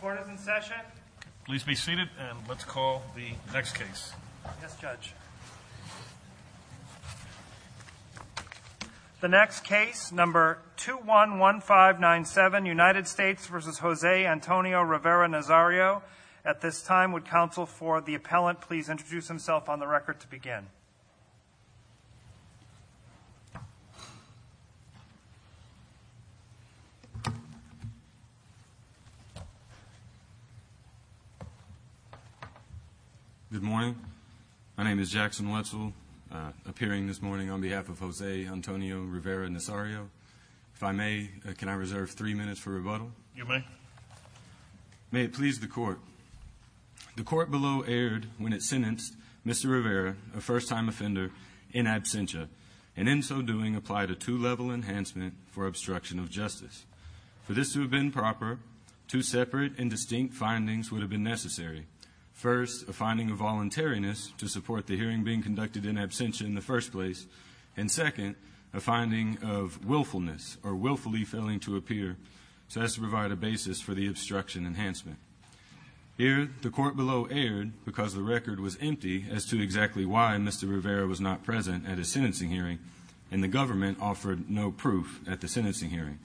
Court is in session. Please be seated and let's call the next case. Yes, Judge. The next case, number 2-1-1-5-9-7, United States v. Jose Antonio Rivera-Nazario. At this time, would counsel for the appellant please introduce himself on the record to begin. Good morning. My name is Jackson Wetzel, appearing this morning on behalf of Jose Antonio Rivera-Nazario. If I may, can I reserve three minutes for rebuttal? You may. May it please the Court. The court below erred when it sentenced Mr. Rivera, a first-time offender, in absentia, and in so doing applied a two-level enhancement for obstruction of justice. For this to have been proper, two separate and distinct findings would have been necessary. First, a finding of voluntariness to support the hearing being conducted in absentia in the first place, and second, a finding of willfulness or willfully failing to appear, so as to provide a basis for the obstruction enhancement. Here, the court below erred because the record was empty as to exactly why Mr. Rivera was not present at his sentencing hearing, and the government offered no proof at the sentencing hearing.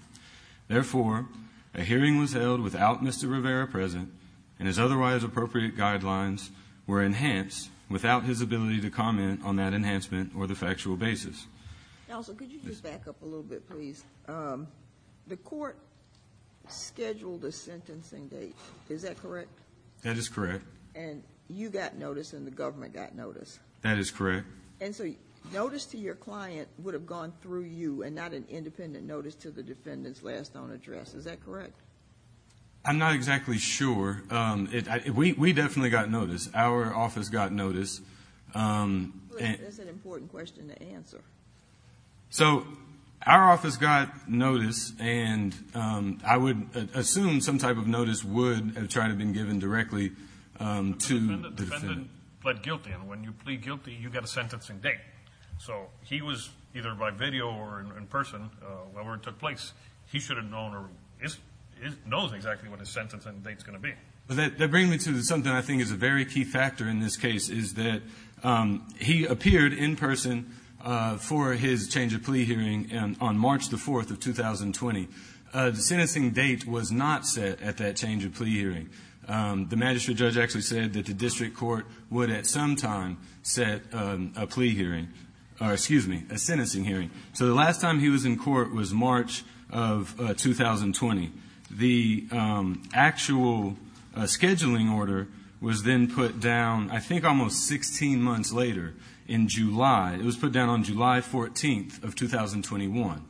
Therefore, a hearing was held without Mr. Rivera present, and his otherwise appropriate guidelines were enhanced without his ability to comment on that enhancement or the factual basis. Counsel, could you just back up a little bit, please? The court scheduled a sentencing date, is that correct? That is correct. And you got notice and the government got notice? That is correct. And so notice to your client would have gone through you and not an independent notice to the defendant's last known address, is that correct? I'm not exactly sure. We definitely got notice. Our office got notice. That's an important question to answer. So our office got notice, and I would assume some type of notice would have tried to have been given directly to the defendant. The defendant pled guilty, and when you plead guilty, you get a sentencing date. So he was either by video or in person where it took place. He should have known or knows exactly what his sentencing date is going to be. That brings me to something I think is a very key factor in this case, is that he appeared in person for his change of plea hearing on March 4, 2020. The sentencing date was not set at that change of plea hearing. The magistrate judge actually said that the district court would at some time set a plea hearing, or excuse me, a sentencing hearing. So the last time he was in court was March of 2020. The actual scheduling order was then put down I think almost 16 months later in July. It was put down on July 14th of 2021.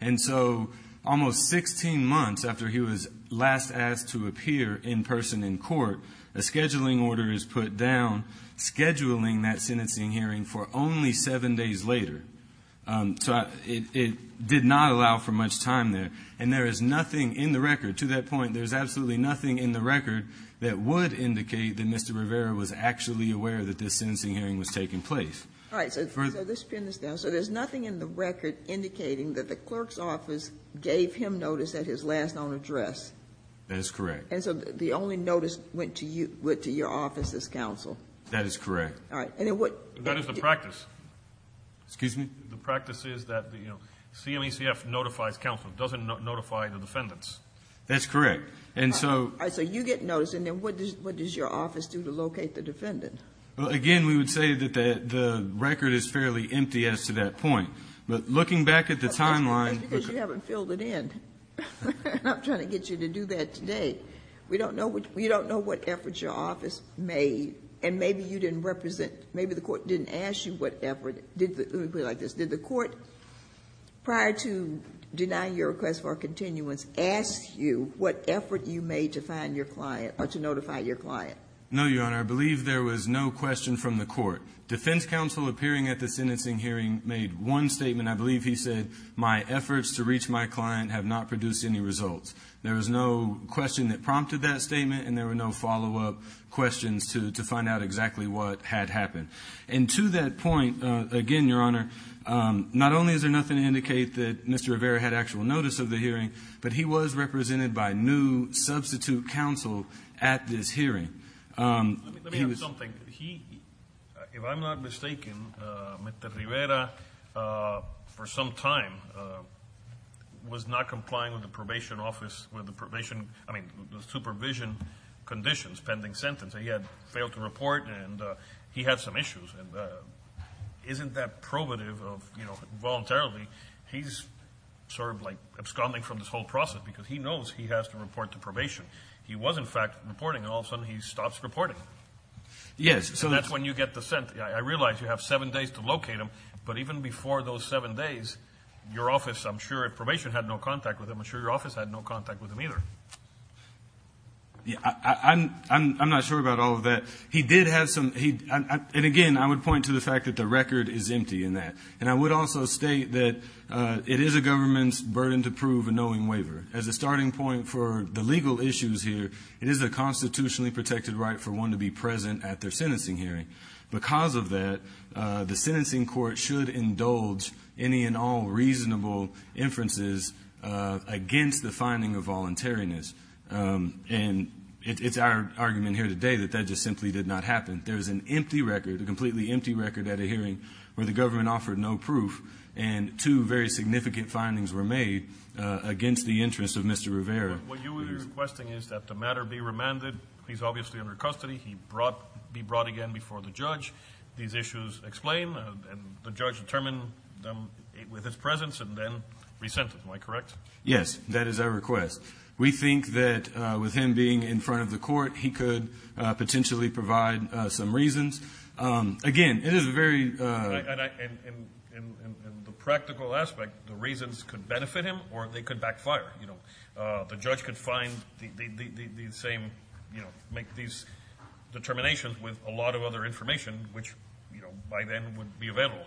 And so almost 16 months after he was last asked to appear in person in court, a scheduling order is put down scheduling that sentencing hearing for only seven days later. So it did not allow for much time there. And there is nothing in the record to that point, there's absolutely nothing in the record that would indicate that Mr. Rivera was actually aware that this sentencing hearing was taking place. All right. So let's pin this down. So there's nothing in the record indicating that the clerk's office gave him notice at his last known address? That is correct. And so the only notice went to your office's counsel? That is correct. All right. And then what? That is the practice. Excuse me? The practice is that the CMECF notifies counsel. It doesn't notify the defendants. That's correct. And so. All right. So you get notice. And then what does your office do to locate the defendant? Well, again, we would say that the record is fairly empty as to that point. But looking back at the timeline. Maybe because you haven't filled it in. And I'm trying to get you to do that today. We don't know what efforts your office made, and maybe you didn't represent or maybe the Court didn't ask you what effort. Let me put it like this. Did the Court, prior to denying your request for a continuance, ask you what effort you made to find your client or to notify your client? No, Your Honor. I believe there was no question from the Court. Defense counsel appearing at the sentencing hearing made one statement. I believe he said, my efforts to reach my client have not produced any results. There was no question that prompted that statement, and there were no follow-up questions to find out exactly what had happened. And to that point, again, Your Honor, not only is there nothing to indicate that Mr. Rivera had actual notice of the hearing, but he was represented by new substitute counsel at this hearing. Let me add something. If I'm not mistaken, Mr. Rivera, for some time, was not complying with the probation office, with the probation, I mean, the supervision conditions pending sentence. He had failed to report, and he had some issues. And isn't that probative of, you know, voluntarily, he's sort of like absconding from this whole process because he knows he has to report to probation. He was, in fact, reporting, and all of a sudden he stops reporting. Yes. And that's when you get the sentence. I realize you have seven days to locate him, but even before those seven days, your office, I'm sure, if probation had no contact with him, I'm sure your office had no contact with him either. I'm not sure about all of that. He did have some, and again, I would point to the fact that the record is empty in that. And I would also state that it is a government's burden to prove a knowing waiver. As a starting point for the legal issues here, it is a constitutionally protected right for one to be present at their sentencing hearing. Because of that, the sentencing court should indulge any and all reasonable inferences against the finding of voluntariness. And it's our argument here today that that just simply did not happen. There's an empty record, a completely empty record at a hearing where the government offered no proof, and two very significant findings were made against the interests of Mr. Rivera. What you are requesting is that the matter be remanded. He's obviously under custody. He brought be brought again before the judge. These issues explain, and the judge determined them with his presence and then resent him. Am I correct? Yes. That is our request. We think that with him being in front of the court, he could potentially provide some reasons. Again, it is a very ---- And the practical aspect, the reasons could benefit him or they could backfire. The judge could find the same, make these determinations with a lot of other information, which by then would be available.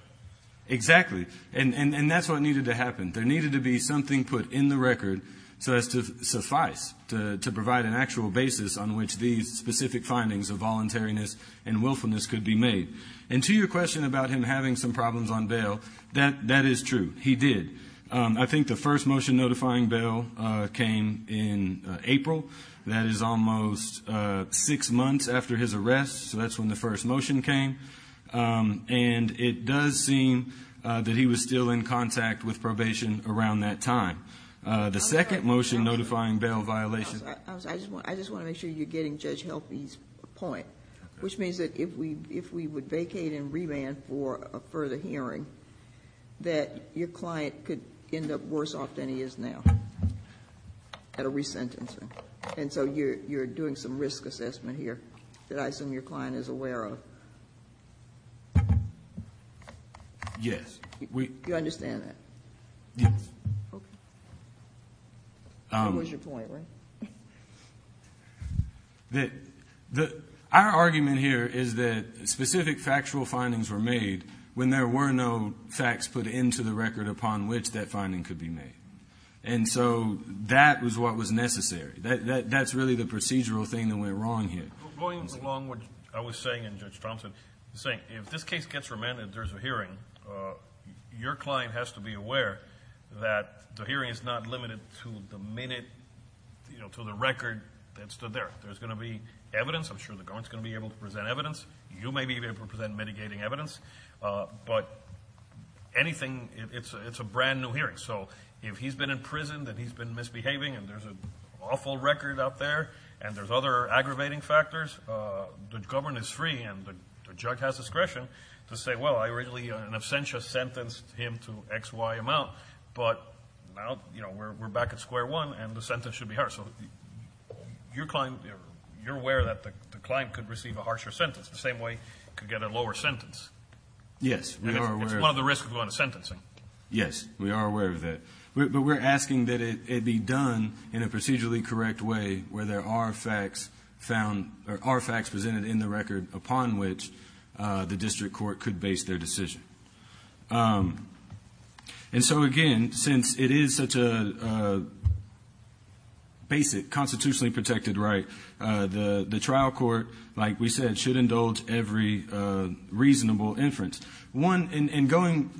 Exactly. And that's what needed to happen. There needed to be something put in the record so as to suffice, to provide an actual basis on which these specific findings of voluntariness and willfulness could be made. And to your question about him having some problems on bail, that is true. He did. I think the first motion notifying bail came in April. That is almost six months after his arrest, so that's when the first motion came. And it does seem that he was still in contact with probation around that time. The second motion notifying bail violation ---- I just want to make sure you're getting Judge Helfie's point, which means that if we would vacate and remand for a further hearing, that your client could end up worse off than he is now at a resentencing. And so you're doing some risk assessment here that I assume your client is aware of. Yes. You understand that? Yes. Okay. That was your point, right? Our argument here is that specific factual findings were made when there were no facts put into the record upon which that finding could be made. And so that was what was necessary. That's really the procedural thing that went wrong here. Going along what I was saying in Judge Thompson, saying if this case gets remanded, there's a hearing, your client has to be aware that the hearing is not limited to the minute, to the record that stood there. There's going to be evidence. I'm sure the government's going to be able to present evidence. You may be able to present mitigating evidence. But anything, it's a brand new hearing. So if he's been imprisoned and he's been misbehaving and there's an awful record up there and there's other aggravating factors, the government is free and the judge has discretion to say, well, I originally in absentia sentenced him to XY amount. But now, you know, we're back at square one and the sentence should be harsher. So your client, you're aware that the client could receive a harsher sentence the same way he could get a lower sentence. Yes. It's one of the risks of going to sentencing. Yes. We are aware of that. But we're asking that it be done in a procedurally correct way where there are facts found or are facts presented in the record upon which the district court could base their decision. And so, again, since it is such a basic constitutionally protected right, the trial court, like we said, should indulge every reasonable inference. One, in going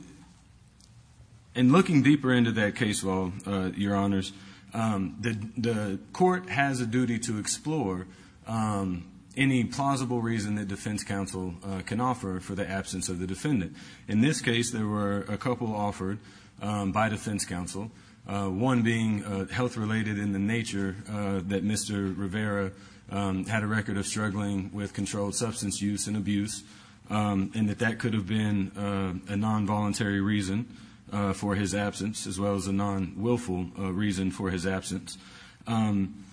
and looking deeper into that case law, Your Honors, the court has a duty to explore any plausible reason that defense counsel can offer for the defendant. In this case, there were a couple offered by defense counsel, one being health related in the nature that Mr. Rivera had a record of struggling with controlled substance use and abuse and that that could have been a non-voluntary reason for his absence, as well as a non-willful reason for his absence. And,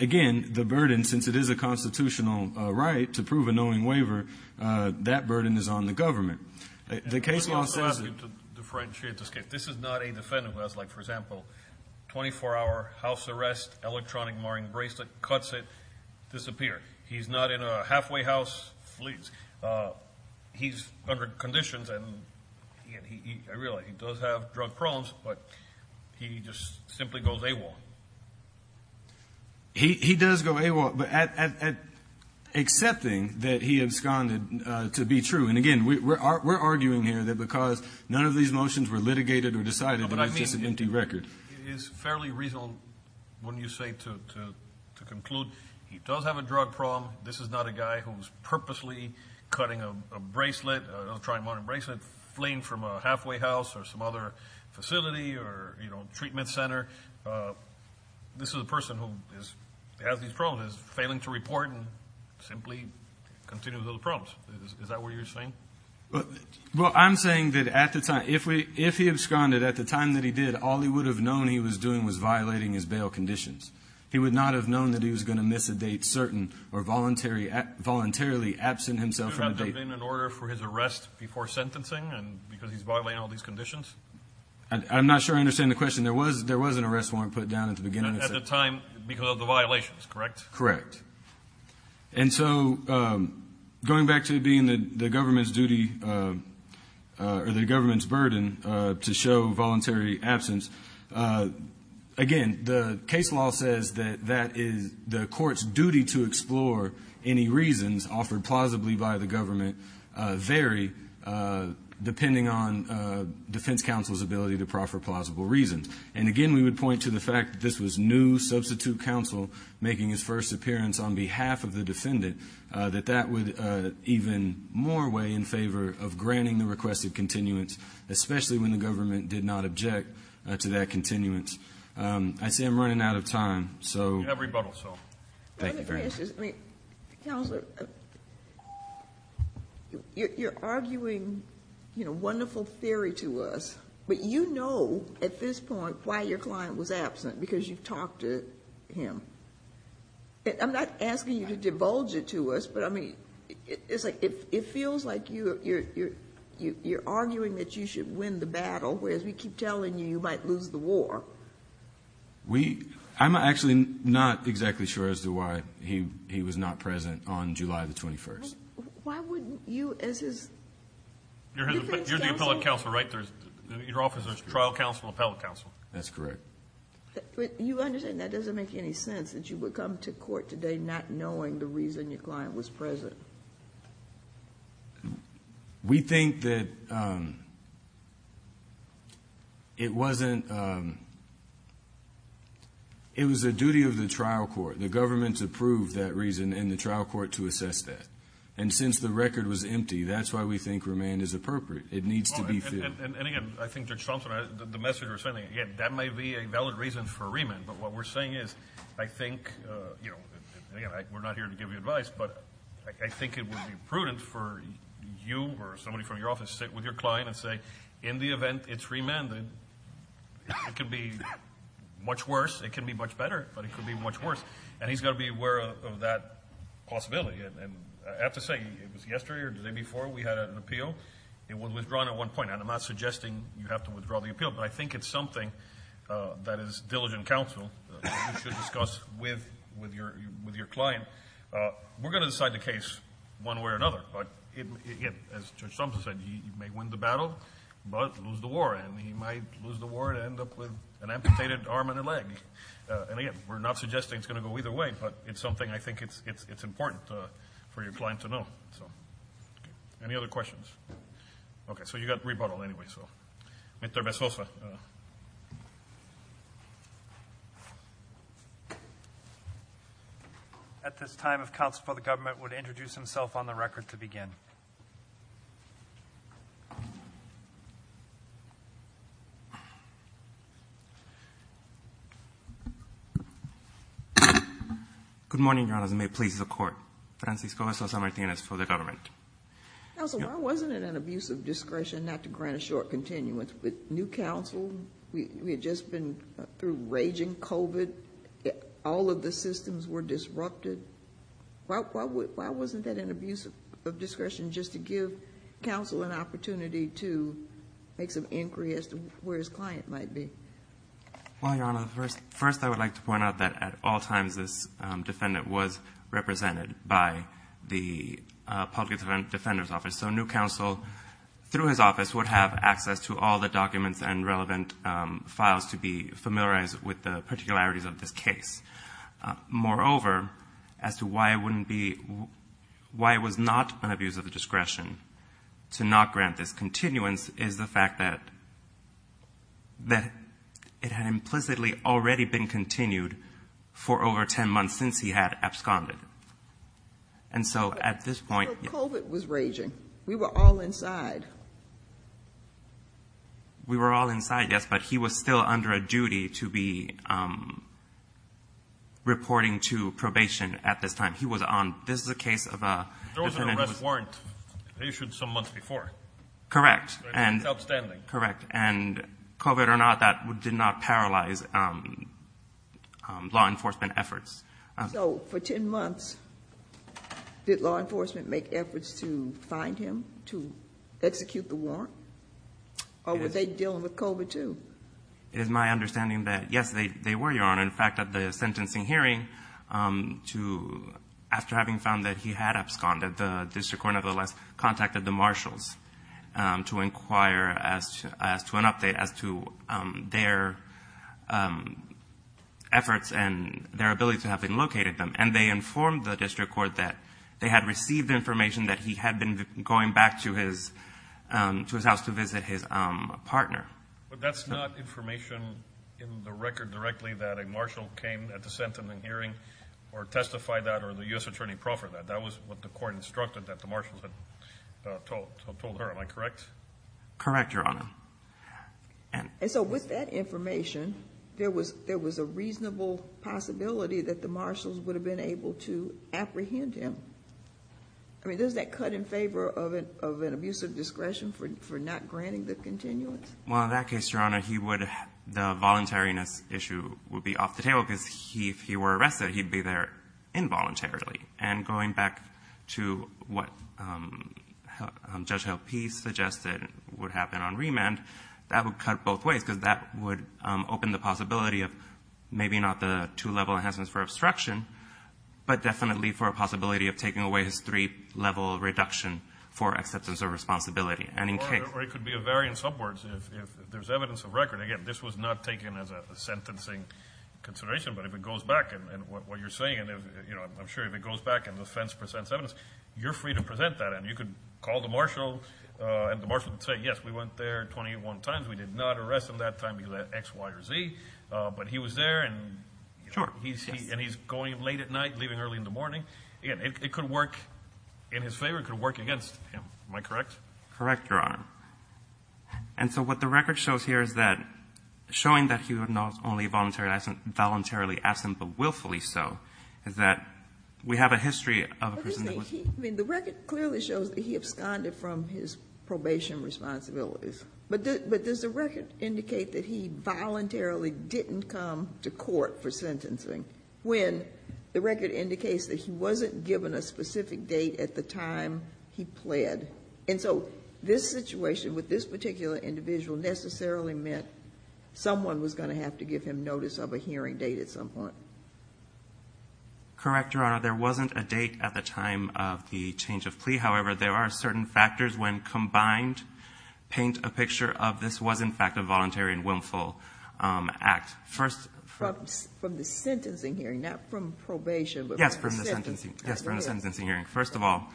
again, the burden, since it is a constitutional right to prove a knowing waiver, that burden is on the government. The case law says that the defendant has, like, for example, 24-hour house arrest, electronic marring bracelet, cuts it, disappears. He's not in a halfway house, flees. He's under conditions, and I realize he does have drug problems, but he just simply goes AWOL. He does go AWOL, but accepting that he absconded to be true. And, again, we're arguing here that because none of these motions were litigated or decided, that it's just an empty record. It is fairly reasonable, wouldn't you say, to conclude he does have a drug problem. This is not a guy who is purposely cutting a bracelet, electronic marring bracelet, fleeing from a halfway house or some other facility or, you know, treatment center. This is a person who has these problems, is failing to report and simply continues with those problems. Is that what you're saying? Well, I'm saying that at the time, if he absconded, at the time that he did, all he would have known he was doing was violating his bail conditions. He would not have known that he was going to miss a date certain or voluntarily absent himself from the date. Was there an order for his arrest before sentencing and because he's violating all these conditions? I'm not sure I understand the question. There was an arrest warrant put down at the beginning. At the time because of the violations, correct? Correct. And so going back to it being the government's duty or the government's burden to show voluntary absence, again, the case law says that that is the court's duty to explore any reasons offered plausibly by the government vary depending on defense counsel's ability to proffer plausible reasons. And, again, we would point to the fact that this was new substitute counsel making his first appearance on behalf of the defendant, that that would even more weigh in favor of granting the requested continuance, especially when the government did not object to that continuance. You have rebuttal, sir. Thank you, Your Honor. Let me ask you something. Counselor, you're arguing, you know, wonderful theory to us, but you know at this point why your client was absent because you've talked to him. I'm not asking you to divulge it to us, but, I mean, it feels like you're arguing that you should win the battle, whereas we keep telling you you might lose the war. I'm actually not exactly sure as to why he was not present on July the 21st. Why wouldn't you, as his defense counsel? You're the appellate counsel, right? Your office is trial counsel, appellate counsel. That's correct. You understand that doesn't make any sense that you would come to court today not knowing the reason your client was present? Well, we think that it wasn't, it was the duty of the trial court, the government to prove that reason and the trial court to assess that. And since the record was empty, that's why we think remand is appropriate. It needs to be filled. And, again, I think Judge Thompson, the message you're sending, that may be a valid reason for remand, but what we're saying is I think, you know, again, we're not here to give you advice, but I think it would be prudent for you or somebody from your office to sit with your client and say, in the event it's remanded, it could be much worse, it could be much better, but it could be much worse. And he's got to be aware of that possibility. And I have to say, it was yesterday or the day before we had an appeal. It was withdrawn at one point. And I'm not suggesting you have to withdraw the appeal, but I think it's something that is diligent counsel. You should discuss with your client. We're going to decide the case one way or another. But, again, as Judge Thompson said, you may win the battle, but lose the war. And you might lose the war and end up with an amputated arm and a leg. And, again, we're not suggesting it's going to go either way, but it's something I think it's important for your client to know. Any other questions? Okay. So you got rebuttal anyway. Thank you, counsel. Mr. Bezoso. At this time, if counsel for the government would introduce himself on the record to begin. Good morning, Your Honor, and may it please the Court. Francisco Bezoso Martinez for the government. Counsel, why wasn't it an abuse of discretion not to grant a short continuance? With new counsel, we had just been through raging COVID. All of the systems were disrupted. Why wasn't that an abuse of discretion just to give counsel an opportunity to make some inquiry as to where his client might be? Well, Your Honor, first I would like to point out that at all times this defendant was represented by the public defender's office. So new counsel, through his office, would have access to all the documents and relevant files to be familiarized with the particularities of this case. Moreover, as to why it was not an abuse of discretion to not grant this continuance is the fact that it had implicitly already been continued for over 10 months since he had absconded. And so at this point... But COVID was raging. We were all inside. We were all inside, yes, but he was still under a duty to be reporting to probation at this time. He was on. This is a case of a... There was an arrest warrant issued some months before. Correct. That's outstanding. Correct. And COVID or not, that did not paralyze law enforcement efforts. So for 10 months, did law enforcement make efforts to find him, to execute the warrant? Or were they dealing with COVID too? It is my understanding that, yes, they were, Your Honor. In fact, at the sentencing hearing, after having found that he had absconded, the district court nevertheless contacted the marshals to inquire as to an update as to their efforts and their ability to have been located them. And they informed the district court that they had received information that he had been going back to his house to visit his partner. But that's not information in the record directly that a marshal came at the sentencing hearing or testified that or the U.S. attorney proffered that. That was what the court instructed that the marshals had told her. Am I correct? Correct, Your Honor. And so with that information, there was a reasonable possibility that the marshals would have been able to apprehend him. I mean, doesn't that cut in favor of an abuse of discretion for not granting the continuance? Well, in that case, Your Honor, the voluntariness issue would be off the table because if he were arrested, he'd be there involuntarily. And going back to what Judge Helpe suggested would happen on remand, that would cut both ways because that would open the possibility of maybe not the two-level enhancements for obstruction, but definitely for a possibility of taking away his three-level reduction for acceptance of responsibility. Or it could be a variance upwards if there's evidence of record. Again, this was not taken as a sentencing consideration, but if it goes back, and what you're saying, I'm sure if it goes back and the defense presents evidence, you're free to present that. And you could call the marshal, and the marshal would say, yes, we went there 21 times. We did not arrest him that time, X, Y, or Z. But he was there, and he's going late at night, leaving early in the morning. Again, it could work in his favor. It could work against him. Am I correct? Correct, Your Honor. And so what the record shows here is that showing that he was not only voluntarily absent, but willfully so, is that we have a history of a person that was. I mean, the record clearly shows that he absconded from his probation responsibilities. But does the record indicate that he voluntarily didn't come to court for sentencing when the record indicates that he wasn't given a specific date at the time he pled? And so this situation with this particular individual necessarily meant someone was going to have to give him notice of a hearing date at some point. Correct, Your Honor. There wasn't a date at the time of the change of plea. However, there are certain factors when combined paint a picture of this was, in fact, a voluntary and willful act. From the sentencing hearing, not from probation, but from the sentencing. Yes, from the sentencing hearing. First of all,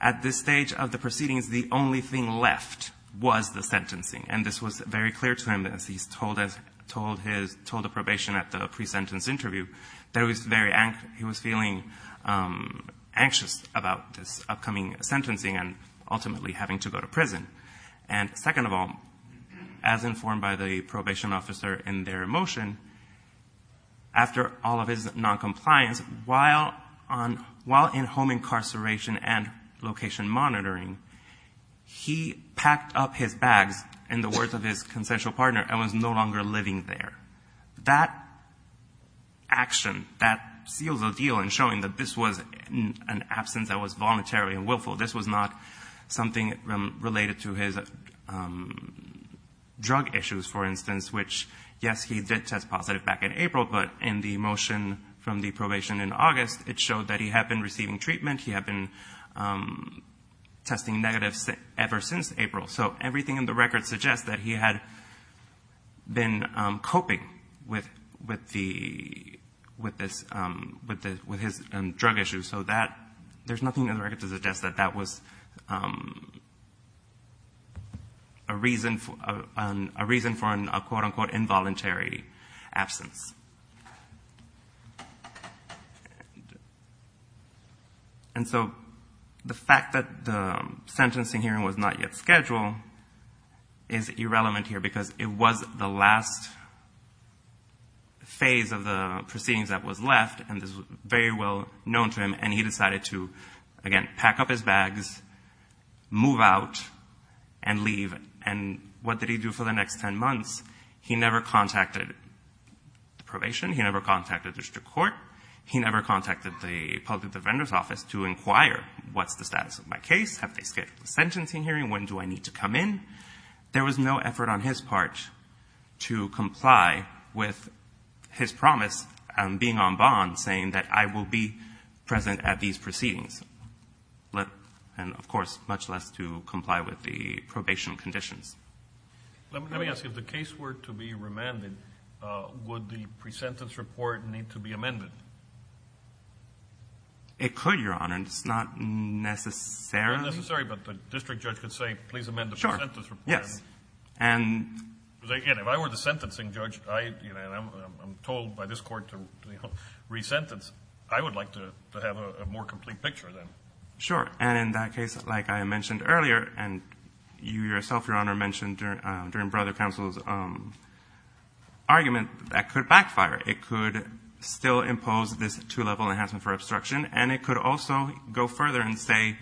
at this stage of the proceedings, the only thing left was the sentencing, and this was very clear to him as he told the probation at the pre-sentence interview that he was feeling anxious about this upcoming sentencing and ultimately having to go to prison. And second of all, as informed by the probation officer in their motion, after all of his noncompliance, while in home incarceration and location monitoring, he packed up his bags, in the words of his consensual partner, and was no longer living there. That action, that seals the deal in showing that this was an absence that was voluntary and willful, this was not something related to his drug issues, for instance, which, yes, he did test positive back in April, but in the motion from the probation in August, it showed that he had been receiving treatment, he had been testing negative ever since April. So everything in the record suggests that he had been coping with his drug issues. So there's nothing in the record to suggest that that was a reason for a quote-unquote involuntary absence. And so the fact that the sentencing hearing was not yet scheduled is irrelevant here because it was the last phase of the proceedings that was left, and this was very well known to him, and he decided to, again, pack up his bags, move out, and leave. And what did he do for the next 10 months? He never contacted the probation. He never contacted district court. He never contacted the public defender's office to inquire, what's the status of my case? Have they scheduled the sentencing hearing? When do I need to come in? There was no effort on his part to comply with his promise of being on bond, saying that I will be present at these proceedings. And, of course, much less to comply with the probation conditions. Let me ask you, if the case were to be remanded, would the pre-sentence report need to be amended? It could, Your Honor. It's not necessary. It's not necessary, but the district judge could say, please amend the pre-sentence report. Sure, yes. Because, again, if I were the sentencing judge and I'm told by this court to re-sentence, I would like to have a more complete picture then. Sure, and in that case, like I mentioned earlier, and you yourself, Your Honor, mentioned during broader counsel's argument, that could backfire. It could still impose this two-level enhancement for obstruction, and it could also go further and say,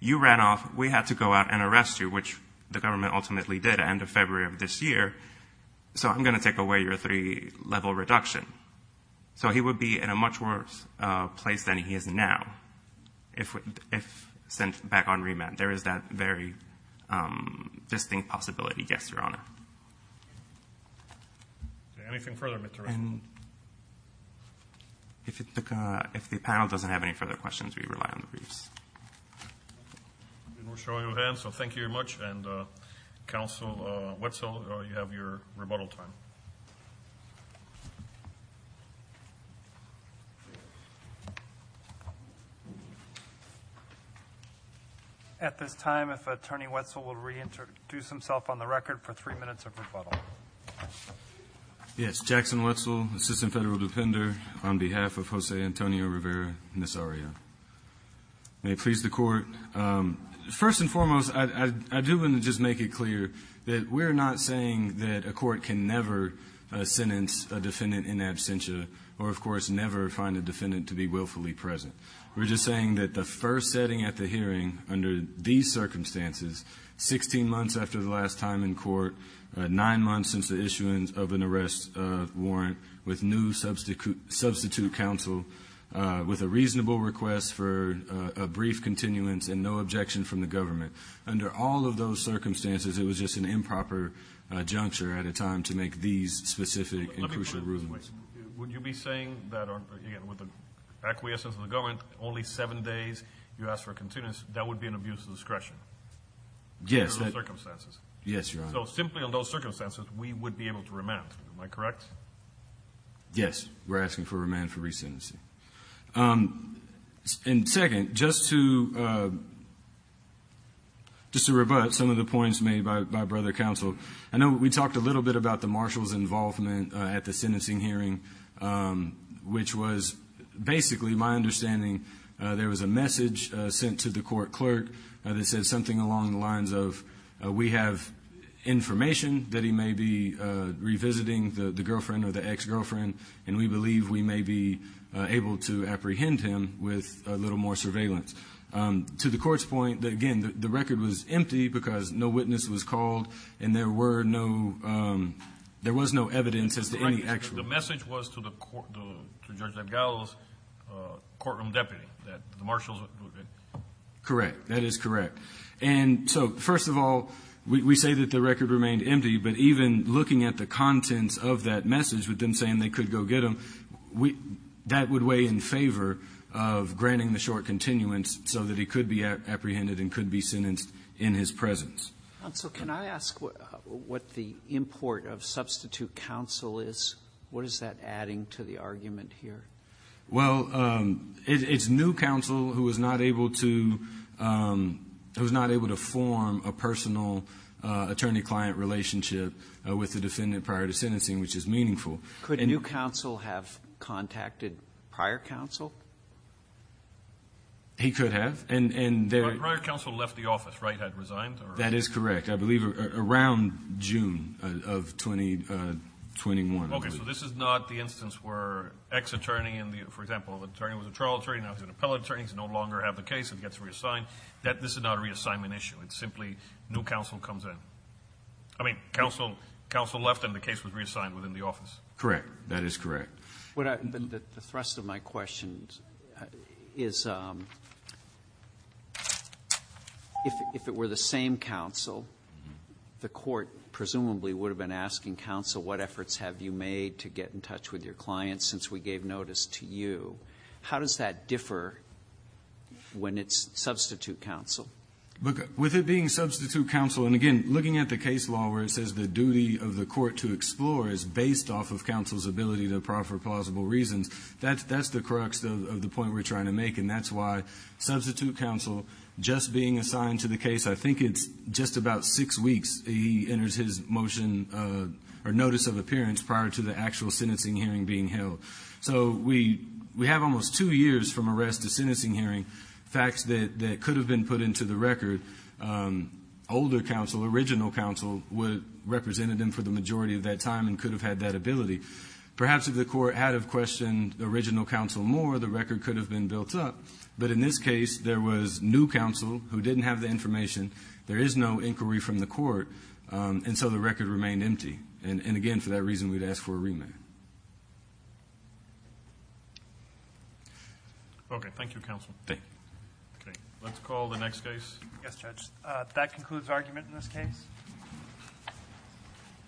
you ran off, we had to go out and arrest you, which the government ultimately did at the end of February of this year, so I'm going to take away your three-level reduction. So he would be in a much worse place than he is now if sent back on remand. There is that very distinct possibility. Yes, Your Honor. Anything further, Mr. Wright? And if the panel doesn't have any further questions, we rely on the briefs. We're showing no hands, so thank you very much. And, Counsel Wetzel, you have your rebuttal time. At this time, if Attorney Wetzel will reintroduce himself on the record for three minutes of rebuttal. Yes. Jackson Wetzel, Assistant Federal Defender, on behalf of Jose Antonio Rivera Nazario. May it please the Court. First and foremost, I do want to just make it clear that we're not saying that a court can never sentence a defendant in absentia, or, of course, never find a defendant to be willfully present. We're just saying that the first setting at the hearing under these circumstances, 16 months after the last time in court, 9 months since the issuance of an arrest warrant, with new substitute counsel, with a reasonable request for a brief continuance, and no objection from the government. Under all of those circumstances, it was just an improper juncture at a time to make these specific and crucial rulings. Let me put it this way. Would you be saying that, again, with the acquiescence of the government, only 7 days, you asked for a continuance, that would be an abuse of discretion? Yes. Under those circumstances. Yes, Your Honor. So simply under those circumstances, we would be able to remand. Am I correct? Yes. We're asking for remand for resentencing. And second, just to rebut some of the points made by Brother Counsel. I know we talked a little bit about the marshal's involvement at the sentencing hearing, which was basically my understanding there was a message sent to the court clerk that said something along the lines of, we have information that he may be revisiting the girlfriend or the ex-girlfriend, and we believe we may be able to apprehend him with a little more surveillance. To the court's point, again, the record was empty because no witness was called and there were no, there was no evidence as to any actual. The message was to the court, to Judge Navigal's courtroom deputy that the marshals would be. Correct. That is correct. And so, first of all, we say that the record remained empty, but even looking at the contents of that message with them saying they could go get him, that would weigh in favor of granting the short continuance so that he could be apprehended and could be sentenced in his presence. Counsel, can I ask what the import of substitute counsel is? What is that adding to the argument here? Well, it's new counsel who was not able to form a personal attorney-client relationship with the defendant prior to sentencing, which is meaningful. Could new counsel have contacted prior counsel? He could have. Prior counsel left the office, right? Had resigned? That is correct. I believe around June of 2021. Okay, so this is not the instance where ex-attorney, for example, the attorney was a trial attorney, now he's an appellate attorney, he no longer has the case and gets reassigned. This is not a reassignment issue. It's simply new counsel comes in. I mean, counsel left and the case was reassigned within the office. Correct. That is correct. The thrust of my question is, if it were the same counsel, the court presumably would have been asking counsel, what efforts have you made to get in touch with your client since we gave notice to you? How does that differ when it's substitute counsel? With it being substitute counsel, and again, looking at the case law where it says the duty of the court to explore is based off of counsel's ability to proffer plausible reasons, that's the crux of the point we're trying to make, and that's why substitute counsel just being assigned to the case, I think it's just about six weeks he enters his motion or notice of appearance prior to the actual sentencing hearing being held. So we have almost two years from arrest to sentencing hearing, facts that could have been put into the record. Older counsel, original counsel represented him for the majority of that time and could have had that ability. Perhaps if the court had questioned original counsel more, the record could have been built up. But in this case, there was new counsel who didn't have the information. There is no inquiry from the court, and so the record remained empty. And again, for that reason, we'd ask for a remand. Okay. Thank you, counsel. Okay. Let's call the next case. Yes, Judge. That concludes argument in this case.